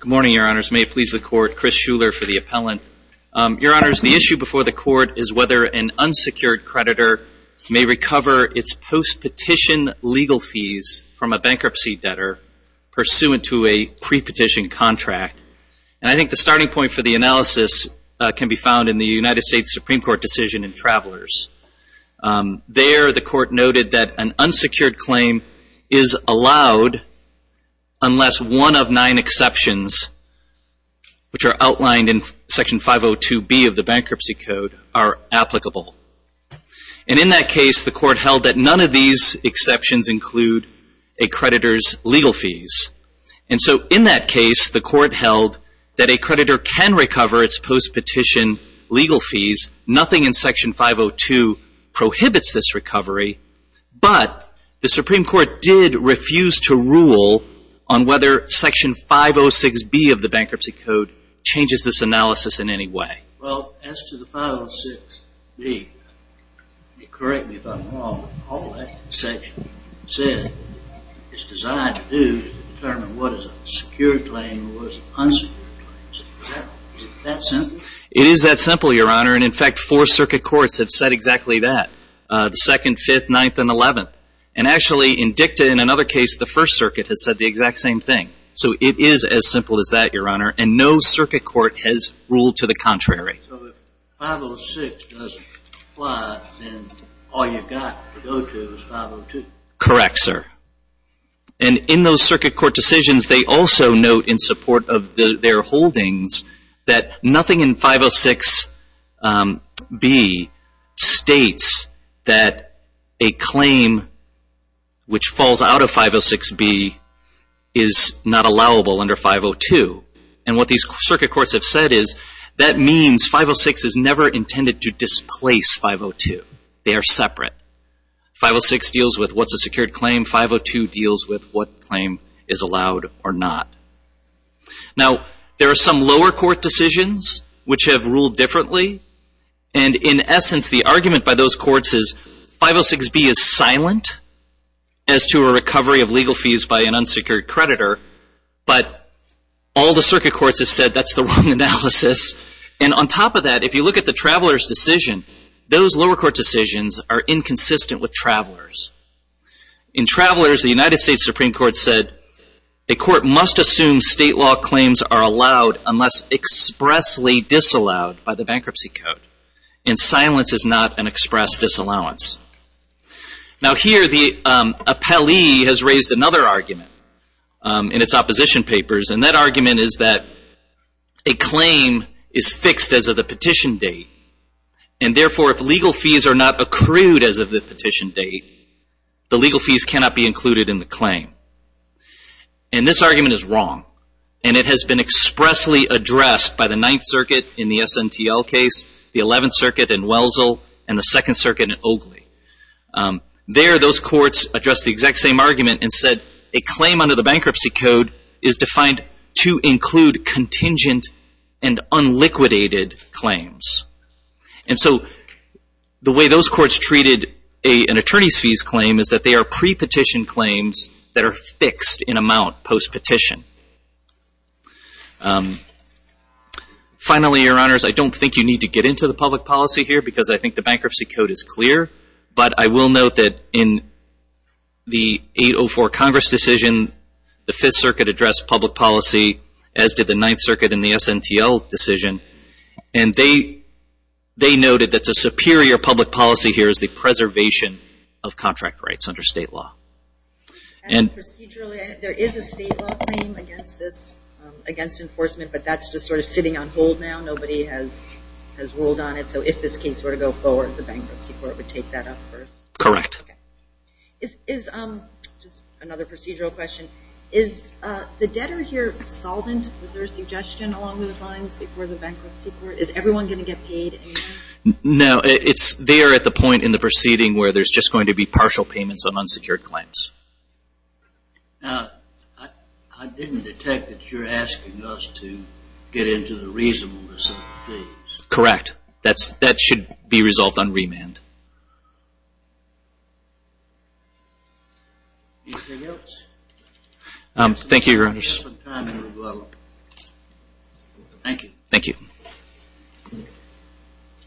Good morning, your honors. May it please the court, Chris Shuler for the appellant. Your honors, the issue before the court is whether an unsecured creditor may recover its post-petition legal fees from a bankruptcy debtor pursuant to a pre-petition contract. And I think the starting point for the analysis can be found in the United States Supreme Court decision in Travelers. There, the court noted that an unsecured claim is allowed unless one of nine exceptions, which are outlined in Section 502B of the Bankruptcy Code, are applicable. And in that case, the court held that none of these exceptions include a creditor's legal fees. And so in that case, the court held that a creditor can recover its post-petition legal fees. Nothing in Section 502 prohibits this recovery. But the Supreme Court did refuse to rule on whether Section 506B of the Bankruptcy Code changes this analysis in any way. Well, as to the 506B, correct me if I'm wrong, all that section says it's designed to do is to determine what is a secured claim and what is an unsecured claim. Is it that simple? It is that simple, your honor, and in fact four circuit courts have said exactly that. The 2nd, 5th, 9th, and 11th. And actually in DICTA, in another case, the First Circuit has said the exact same thing. So it is as simple as that, your honor, and no circuit court has ruled to the contrary. So if 506 doesn't apply, then all you've got to go to is 502. Correct, sir. And in those circuit court decisions, they also note in support of their holdings that nothing in 506B states that a claim which falls out of 506B is not allowable under 502. And what these circuit courts have said is that means 506 is never intended to displace 502. They are separate. 506 deals with what's a secured claim, 502 deals with what claim is allowed or not. Now, there are some lower court decisions which have ruled differently and in essence the argument by those courts is 506B is silent as to a recovery of legal fees by an unsecured creditor, but all the circuit courts have said that's the wrong analysis. And on top of that, if you look at the traveler's decision, those lower court decisions are inconsistent with travelers. In travelers, the United States Supreme Court said a court must assume state law claims are allowed unless expressly disallowed by the bankruptcy code. And silence is not an express disallowance. Now here, the appellee has raised another argument in its opposition papers and that argument is that a claim is fixed as of the petition date and therefore if legal fees are not accrued as of the petition date, the legal fees cannot be included in the claim. And this argument is wrong and it has been expressly addressed by the Ninth Circuit in the SNTL case, the Eleventh Circuit in Wellesley, and the Second Circuit in Oakley. There, those courts addressed the exact same argument and said a claim under the bankruptcy code is defined to include contingent and unliquidated claims. And so the way those courts treated an attorney's fees claim is that they are pre-petition claims that are fixed in amount post-petition. Finally, Your Honors, I don't think you need to get into the public policy here because I think the bankruptcy code is clear, but I will note that in the 804 Congress decision, the Fifth Circuit addressed public policy as did the Ninth Circuit in the SNTL decision. And they noted that the superior public policy here is the preservation of contract rights under state law. And procedurally, there is a state law claim against this, against enforcement, but that's just sort of sitting on hold now. Nobody has ruled on it. So if this case were to go forward, the bankruptcy court would take that up first? Correct. Is, just another procedural question, is the debtor here solvent? Is there a suggestion along those lines before the bankruptcy court? Is everyone going to get paid? No, they are at the point in the proceeding where there's just going to be partial payments on unsecured claims. Now, I didn't detect that you're asking us to get into the reasonableness of the case. Correct. That should be resolved on remand. Anything else? Thank you, Your Honors. We have some time to develop. Thank you. Thank you.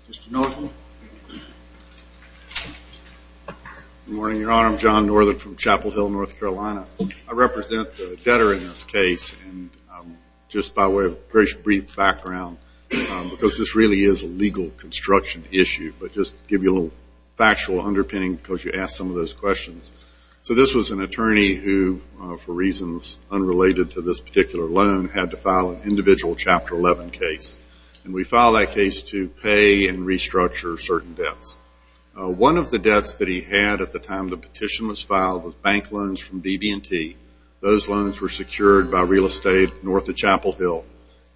Mr. Northam. Good morning, Your Honor. I'm John Northam from Chapel Hill, North Carolina. I represent the debtor in this case. And just by way of brief background, because this really is a legal construction issue, but just to give you a little factual underpinning because you asked some of those questions. So this was an attorney who, for reasons unrelated to this particular loan, had to file an individual Chapter 11 case. And we filed that case to pay and restructure certain debts. One of the debts that he had at the time the petition was filed was bank loans from BB&T. Those loans were secured by real estate north of Chapel Hill.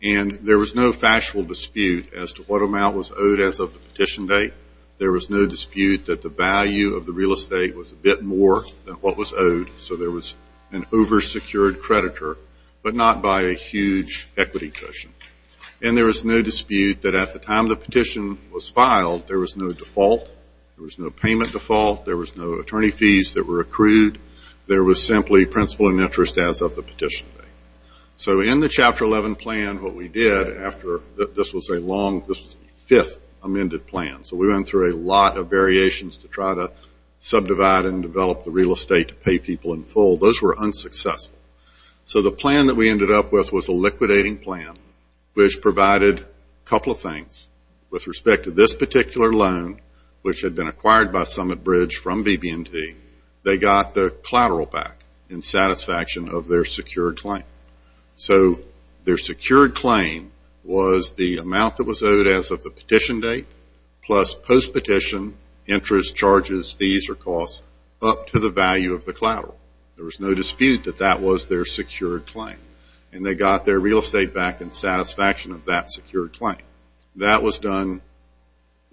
And there was no factual dispute as to what amount was owed as of the petition date. There was no dispute that the value of the real estate was a bit more than what was owed. So there was an over-secured creditor, but not by a huge equity cushion. And there was no dispute that at the time the petition was filed, there was no default. There was no payment default. There was no attorney fees that were accrued. There was simply principal and interest as of the petition date. So in the Chapter 11 plan, what we did after this was a long, this was the fifth amended plan. So we went through a lot of variations to try to subdivide and develop the real estate to pay people in full. Those were unsuccessful. So the plan that we ended up with was a liquidating plan, which provided a couple of things. With respect to this particular loan, which had been acquired by Summit Bridge from BB&T, they got the collateral back in satisfaction of their secured claim. So their secured claim was the amount that was owed as of the petition date, plus post-petition interest, charges, fees, or costs up to the value of the collateral. There was no dispute that that was their secured claim. And they got their real estate back in satisfaction of that secured claim. That was done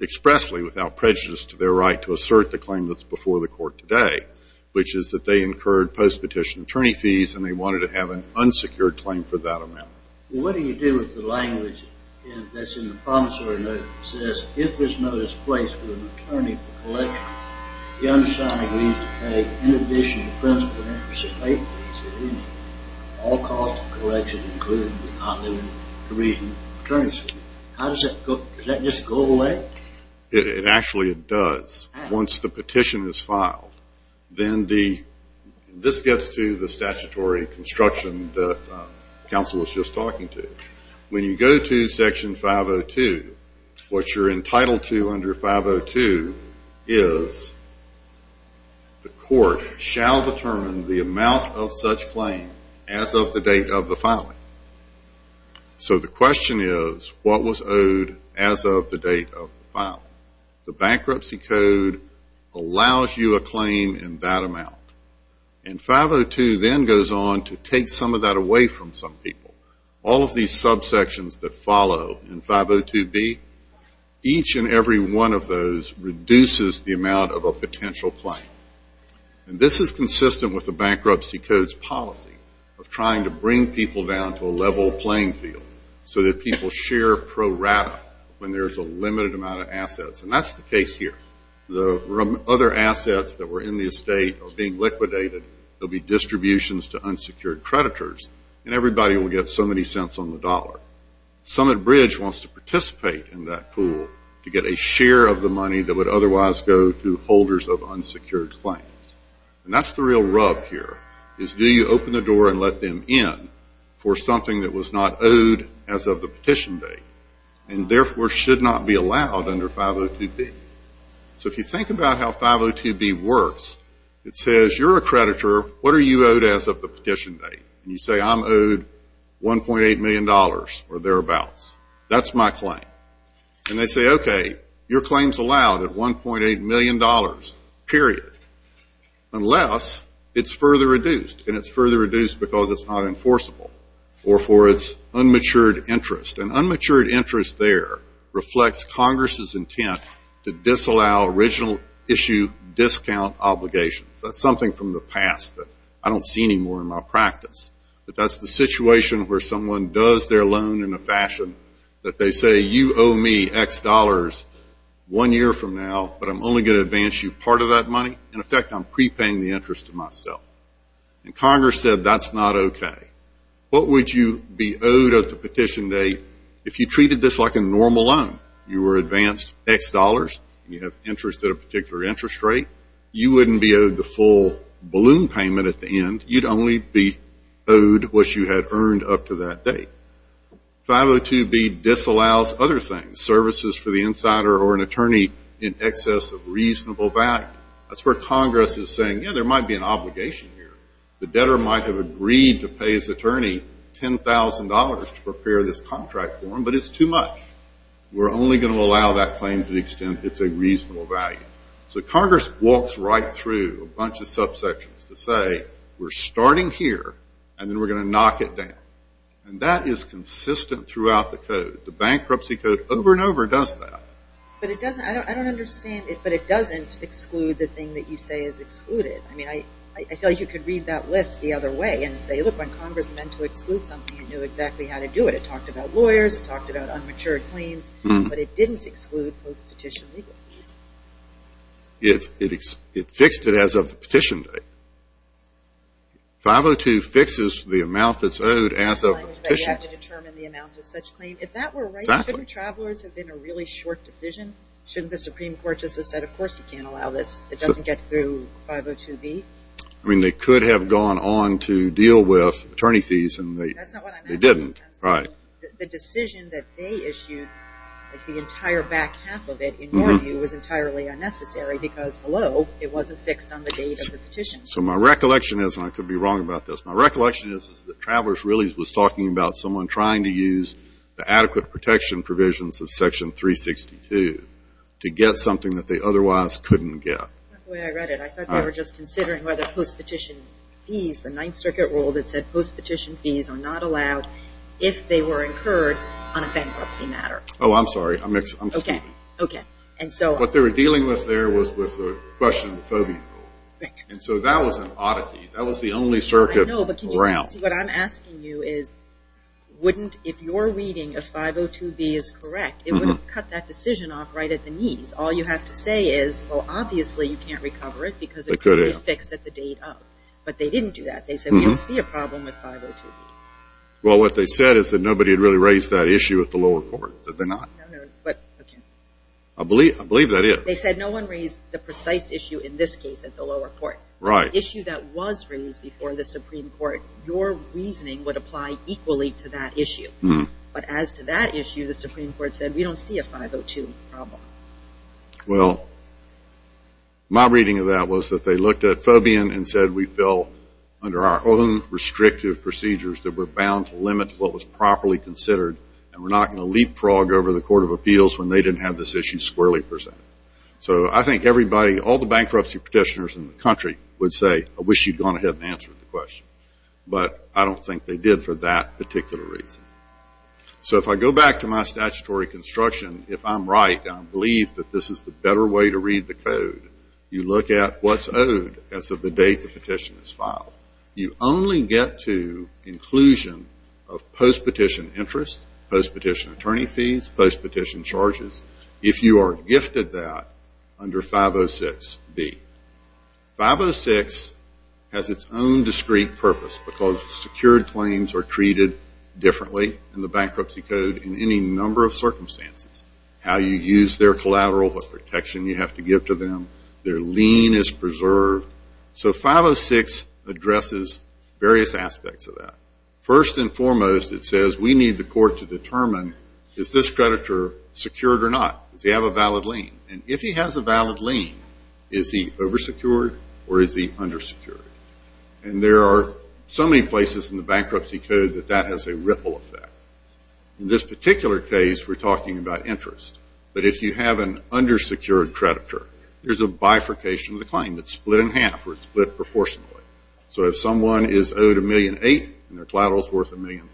expressly without prejudice to their right to assert the claim that's before the court today, which is that they incurred post-petition attorney fees, and they wanted to have an unsecured claim for that amount. Well, what do you do with the language that's in the promissory note that says, if there's no displacement of an attorney for collection, the undersigned agrees to pay in addition to principal and interest at all costs of collection, including the non-living to reason attorney's fees. How does that go? Does that just go away? Actually, it does. Once the petition is filed. This gets to the statutory construction that counsel was just talking to. When you go to Section 502, what you're entitled to under 502 is the court shall determine the amount of such claim as of the date of the filing. So the question is, what was owed as of the date of the filing? The bankruptcy code allows you a claim in that amount. And 502 then goes on to take some of that away from some people. All of these subsections that follow in 502B, each and every one of those reduces the amount of a potential claim. And this is consistent with the bankruptcy code's policy of trying to bring people down to a level playing field so that people share pro rata when there's a limited amount of assets. And that's the case here. The other assets that were in the estate are being liquidated. There will be distributions to unsecured creditors. And everybody will get so many cents on the dollar. Summit Bridge wants to participate in that pool to get a share of the money that would otherwise go to holders of unsecured claims. And that's the real rub here, is do you open the door and let them in for something that was not owed as of the petition date and therefore should not be allowed under 502B? So if you think about how 502B works, it says you're a creditor. What are you owed as of the petition date? And you say, I'm owed $1.8 million or thereabouts. That's my claim. And they say, okay, your claim's allowed at $1.8 million, period, unless it's further reduced. And it's further reduced because it's not enforceable or for its unmatured interest. And unmatured interest there reflects Congress's intent to disallow original issue discount obligations. That's something from the past that I don't see anymore in my practice. But that's the situation where someone does their loan in a fashion that they say, you owe me X dollars one year from now, but I'm only going to advance you part of that money. In effect, I'm prepaying the interest to myself. And Congress said, that's not okay. What would you be owed at the petition date if you treated this like a normal loan? You were advanced X dollars. You have interest at a particular interest rate. You wouldn't be owed the full balloon payment at the end. You'd only be owed what you had earned up to that date. 502B disallows other things, services for the insider or an attorney in excess of reasonable value. That's where Congress is saying, yeah, there might be an obligation here. The debtor might have agreed to pay his attorney $10,000 to prepare this contract for him, but it's too much. We're only going to allow that claim to the extent it's a reasonable value. So Congress walks right through a bunch of subsections to say, we're starting here, and then we're going to knock it down. And that is consistent throughout the code. The bankruptcy code over and over does that. But it doesn't, I don't understand it, but it doesn't exclude the thing that you say is excluded. I mean, I feel you could read that list the other way and say, look, when Congress meant to exclude something, it knew exactly how to do it. It talked about lawyers. It talked about unmatured claims. But it didn't exclude post-petition legal fees. It fixed it as of the petition date. 502 fixes the amount that's owed as of the petition date. But you have to determine the amount of such claim. If that were right, shouldn't travelers have been a really short decision? Shouldn't the Supreme Court just have said, of course you can't allow this. It doesn't get through 502B. I mean, they could have gone on to deal with attorney fees. That's not what I'm asking. They didn't, right. The decision that they issued, the entire back half of it, in your view, was entirely unnecessary, because below it wasn't fixed on the date of the petition. So my recollection is, and I could be wrong about this, my recollection is that travelers really was talking about someone trying to use the adequate protection provisions of Section 362 to get something that they otherwise couldn't get. That's not the way I read it. I thought they were just considering whether post-petition fees, the Ninth Circuit rule that said post-petition fees are not allowed if they were incurred on a bankruptcy matter. Oh, I'm sorry. I'm mistaken. Okay, okay. What they were dealing with there was the question of the FOB. And so that was an oddity. That was the only circuit around. I know, but can you see what I'm asking you is, wouldn't, if your reading of 502B is correct, it would have cut that decision off right at the knees. All you have to say is, well, obviously you can't recover it because it could be fixed at the date of. But they didn't do that. They said we don't see a problem with 502B. Well, what they said is that nobody had really raised that issue at the lower court. Did they not? No, no, but, okay. I believe that is. They said no one raised the precise issue in this case at the lower court. Right. The issue that was raised before the Supreme Court, your reasoning would apply equally to that issue. But as to that issue, the Supreme Court said we don't see a 502 problem. Well, my reading of that was that they looked at FOBian and said we fell under our own restrictive procedures that were bound to limit what was properly considered and were not going to leapfrog over the Court of Appeals when they didn't have this issue squarely presented. So I think everybody, all the bankruptcy petitioners in the country would say, I wish you'd gone ahead and answered the question. But I don't think they did for that particular reason. So if I go back to my statutory construction, if I'm right, and I believe that this is the better way to read the code, you look at what's owed as of the date the petition is filed. You only get to inclusion of post-petition interest, post-petition attorney fees, post-petition charges, if you are gifted that under 506B. 506 has its own discrete purpose because secured claims are treated differently in the bankruptcy code in any number of circumstances. How you use their collateral, what protection you have to give to them, their lien is preserved. So 506 addresses various aspects of that. First and foremost, it says we need the court to determine, is this creditor secured or not? Does he have a valid lien? And if he has a valid lien, is he oversecured or is he undersecured? And there are so many places in the bankruptcy code that that has a ripple effect. In this particular case, we're talking about interest. But if you have an undersecured creditor, there's a bifurcation of the claim that's split in half or split proportionally. So if someone is owed $1.8 million and their collateral is worth $1.5 million,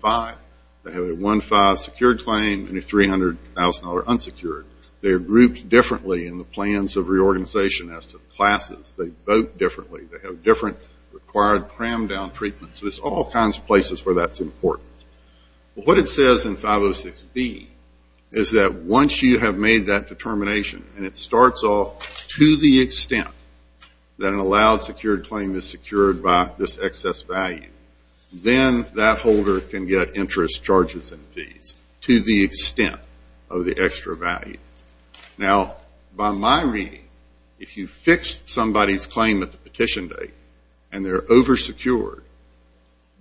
they have a 1-5 secured claim and a $300,000 unsecured. They are grouped differently in the plans of reorganization as to classes. They vote differently. They have different required cram-down treatments. There's all kinds of places where that's important. What it says in 506B is that once you have made that determination and it starts off to the extent that an allowed secured claim is secured by this excess value, then that holder can get interest charges and fees to the extent of the extra value. Now, by my reading, if you fix somebody's claim at the petition date and they're oversecured,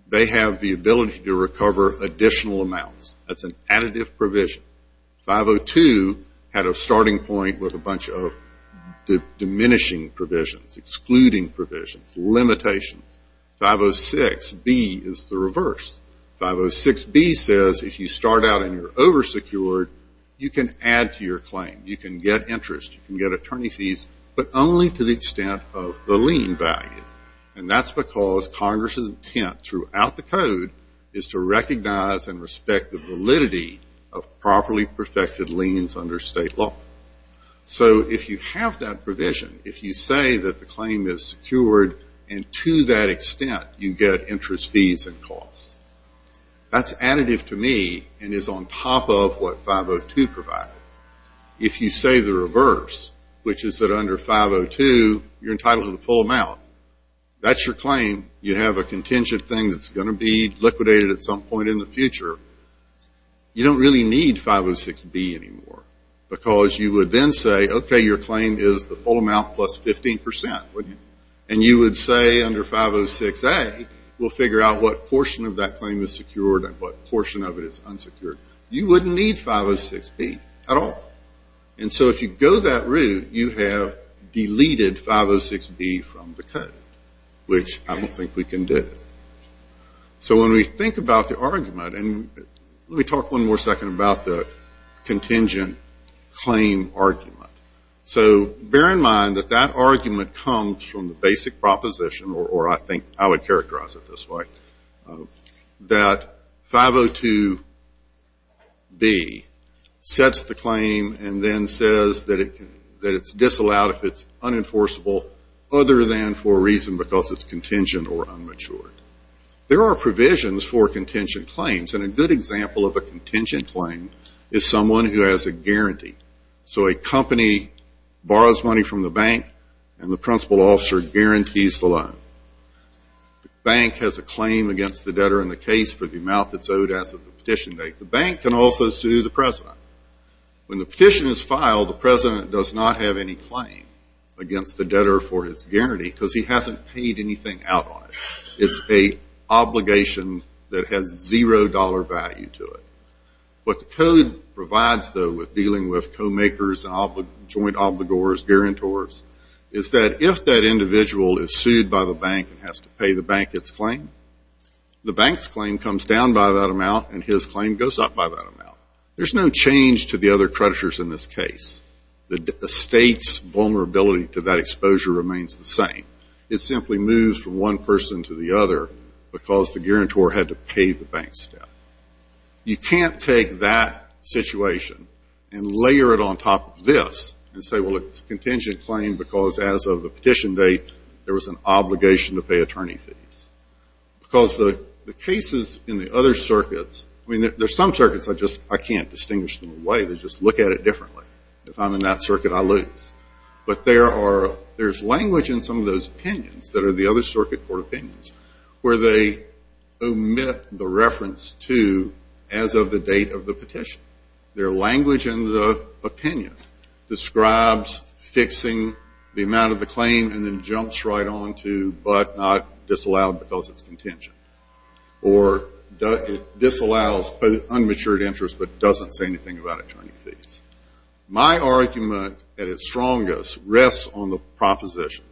they have the ability to recover additional amounts. That's an additive provision. 502 had a starting point with a bunch of diminishing provisions, excluding provisions, limitations. 506B is the reverse. 506B says if you start out and you're oversecured, you can add to your claim. You can get interest. You can get attorney fees, but only to the extent of the lien value. And that's because Congress's intent throughout the code is to recognize and respect the validity of properly perfected liens under state law. So if you have that provision, if you say that the claim is secured and to that extent you get interest fees and costs, that's additive to me and is on top of what 502 provided. If you say the reverse, which is that under 502 you're entitled to the full amount, that's your claim. You have a contingent thing that's going to be liquidated at some point in the future. You don't really need 506B anymore because you would then say, okay, your claim is the full amount plus 15%, wouldn't you? And you would say under 506A we'll figure out what portion of that claim is secured and what portion of it is unsecured. You wouldn't need 506B at all. And so if you go that route, you have deleted 506B from the code, which I don't think we can do. So when we think about the argument, and let me talk one more second about the contingent claim argument. So bear in mind that that argument comes from the basic proposition, or I think I would characterize it this way, that 502B sets the claim and then says that it's disallowed if it's unenforceable other than for a reason because it's contingent or unmatured. There are provisions for contingent claims, and a good example of a contingent claim is someone who has a guarantee. So a company borrows money from the bank and the principal officer guarantees the loan. The bank has a claim against the debtor in the case for the amount that's owed as of the petition date. The bank can also sue the president. When the petition is filed, the president does not have any claim against the debtor for his guarantee because he hasn't paid anything out on it. It's an obligation that has zero dollar value to it. What the code provides, though, with dealing with co-makers and joint obligors, guarantors, is that if that individual is sued by the bank and has to pay the bank its claim, the bank's claim comes down by that amount and his claim goes up by that amount. There's no change to the other creditors in this case. The state's vulnerability to that exposure remains the same. It simply moves from one person to the other because the guarantor had to pay the bank's debt. You can't take that situation and layer it on top of this and say, well, it's a contingent claim because as of the petition date, there was an obligation to pay attorney fees. Because the cases in the other circuits, I mean, there's some circuits I can't distinguish them away. They just look at it differently. If I'm in that circuit, I lose. But there's language in some of those opinions that are the other circuit court opinions where they omit the reference to as of the date of the petition. Their language in the opinion describes fixing the amount of the claim and then jumps right on to but not disallowed because it's contingent. Or disallows unmatured interest but doesn't say anything about attorney fees. My argument at its strongest rests on the proposition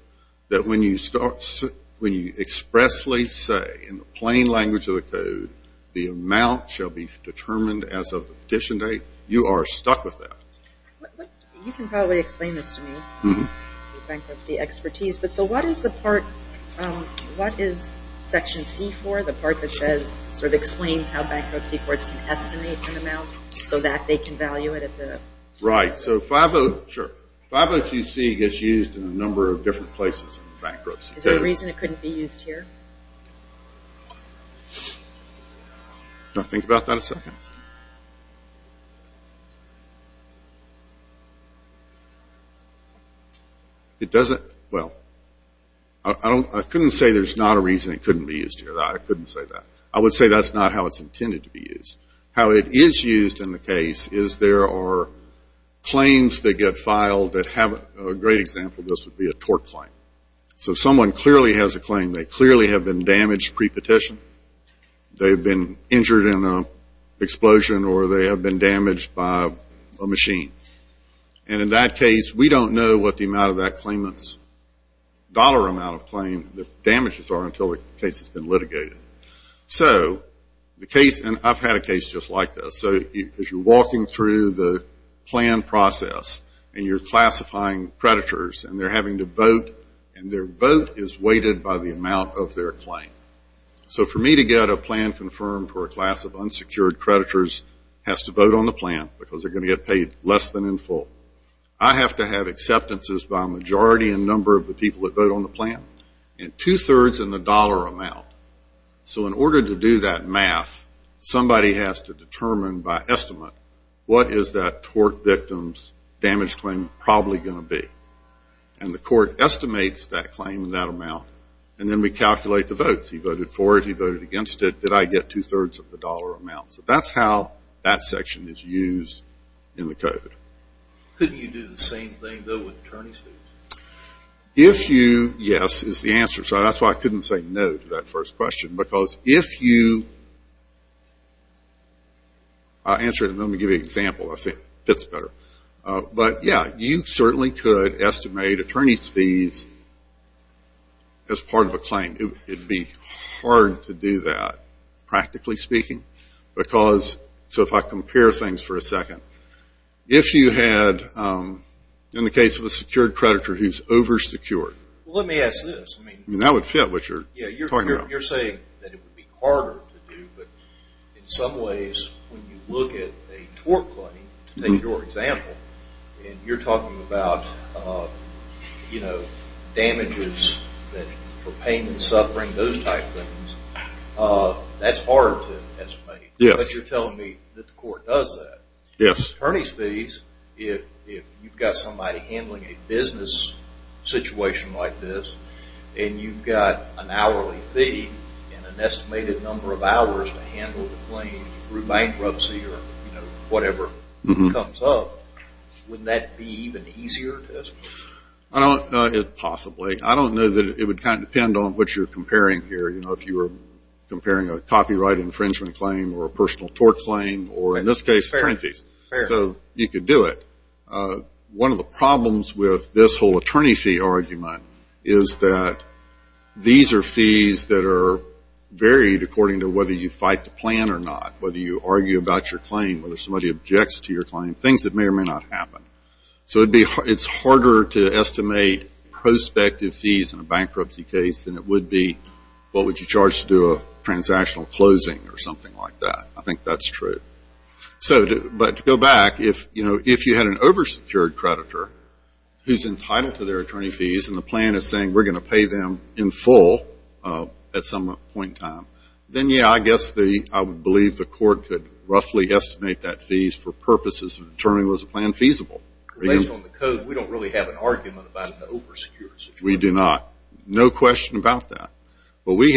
that when you expressly say, in the plain language of the code, the amount shall be determined as of the petition date, you are stuck with that. You can probably explain this to me. Bankruptcy expertise. So what is the part, what is section C for, the part that says, sort of explains how bankruptcy courts can estimate an amount so that they can value it? Right. So 502C gets used in a number of different places in bankruptcy. Is there a reason it couldn't be used here? Can I think about that a second? It doesn't, well, I couldn't say there's not a reason it couldn't be used here. I couldn't say that. I would say that's not how it's intended to be used. How it is used in the case is there are claims that get filed that have, a great example of this would be a tort claim. So someone clearly has a claim. They clearly have been damaged pre-petition. They've been injured in an explosion or they have been damaged by a machine. And in that case, we don't know what the amount of that claimant's dollar amount of claim, the damages are until the case has been litigated. So the case, and I've had a case just like this. So as you're walking through the plan process and you're classifying predators and they're having to vote and their vote is weighted by the amount of their claim. So for me to get a plan confirmed for a class of unsecured predators has to vote on the plan because they're going to get paid less than in full. I have to have acceptances by a majority in number of the people that vote on the plan and two-thirds in the dollar amount. So in order to do that math, somebody has to determine by estimate what is that tort victim's damage claim probably going to be. And the court estimates that claim and that amount and then we calculate the votes. He voted for it. He voted against it. Did I get two-thirds of the dollar amount? So that's how that section is used in the code. Couldn't you do the same thing, though, with attorney's fees? If you, yes, is the answer. So that's why I couldn't say no to that first question because if you answer it and let me give you an example, I say it fits better. But, yeah, you certainly could estimate attorney's fees as part of a claim. It would be hard to do that, practically speaking, because so if I compare things for a second, if you had, in the case of a secured predator who's oversecured. Well, let me ask this. Yeah, you're saying that it would be harder to do, but in some ways when you look at a tort claim, to take your example, and you're talking about damages for pain and suffering, those type things, that's harder to estimate. Yes. But you're telling me that the court does that. Yes. Attorney's fees, if you've got somebody handling a business situation like this and you've got an hourly fee and an estimated number of hours to handle the claim through bankruptcy or whatever comes up, wouldn't that be even easier to estimate? Possibly. I don't know that it would kind of depend on what you're comparing here. You know, if you were comparing a copyright infringement claim or a personal tort claim or, in this case, attorney's fees. Fair. So you could do it. One of the problems with this whole attorney fee argument is that these are fees that are varied according to whether you fight the plan or not, whether you argue about your claim, whether somebody objects to your claim, things that may or may not happen. So it's harder to estimate prospective fees in a bankruptcy case than it would be, what would you charge to do a transactional closing or something like that. I think that's true. But to go back, if you had an over-secured creditor who's entitled to their attorney fees and the plan is saying we're going to pay them in full at some point in time, then, yeah, I guess I would believe the court could roughly estimate that fees for purposes of determining was the plan feasible. Based on the code, we don't really have an argument about an over-secured creditor. We do not. No question about that. I think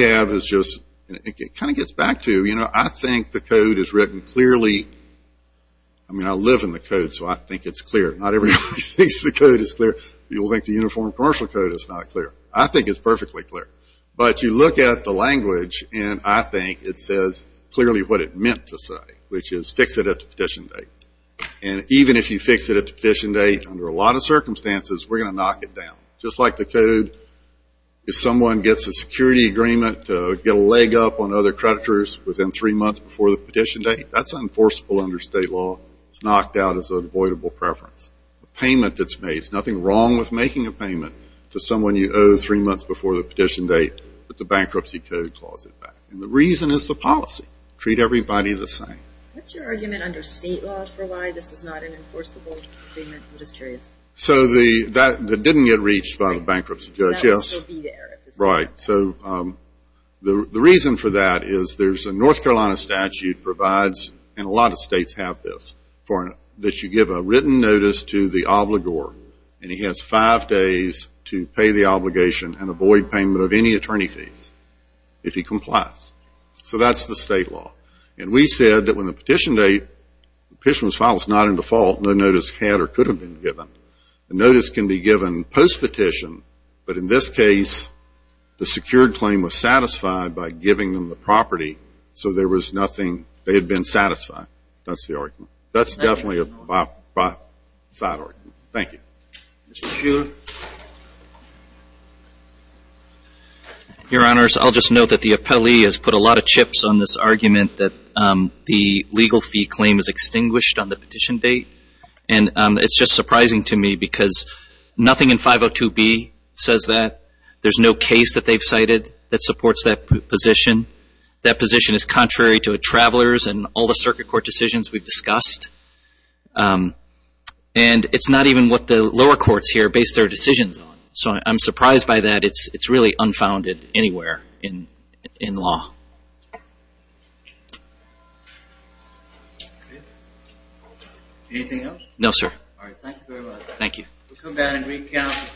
the code is written clearly. I mean, I live in the code, so I think it's clear. Not everybody thinks the code is clear. People think the Uniform Commercial Code is not clear. I think it's perfectly clear. But you look at the language, and I think it says clearly what it meant to say, which is fix it at the petition date. And even if you fix it at the petition date, under a lot of circumstances, we're going to knock it down. Just like the code, if someone gets a security agreement to get a leg up on other creditors within three months before the petition date, that's enforceable under state law. It's knocked out as an avoidable preference. The payment that's made, there's nothing wrong with making a payment to someone you owe three months before the petition date, but the bankruptcy code calls it back. And the reason is the policy. Treat everybody the same. What's your argument under state law for why this is not an enforceable agreement? I'm just curious. So that didn't get reached by the bankruptcy judge, yes. That will still be there. Right. So the reason for that is there's a North Carolina statute provides, and a lot of states have this, that you give a written notice to the obligor, and he has five days to pay the obligation and avoid payment of any attorney fees if he complies. So that's the state law. And we said that when the petition was filed, it's not in default. No notice had or could have been given. A notice can be given post-petition, but in this case, the secured claim was satisfied by giving them the property, so there was nothing. They had been satisfied. That's the argument. That's definitely a by side argument. Thank you. Mr. Shuler. Your Honors, I'll just note that the appellee has put a lot of chips on this argument that the legal fee claim is extinguished on the petition date. And it's just surprising to me because nothing in 502B says that. There's no case that they've cited that supports that position. That position is contrary to a traveler's and all the circuit court decisions we've discussed. And it's not even what the lower courts here base their decisions on. So I'm surprised by that. It's really unfounded anywhere in law. Anything else? No, sir. All right. Thank you very much. Thank you.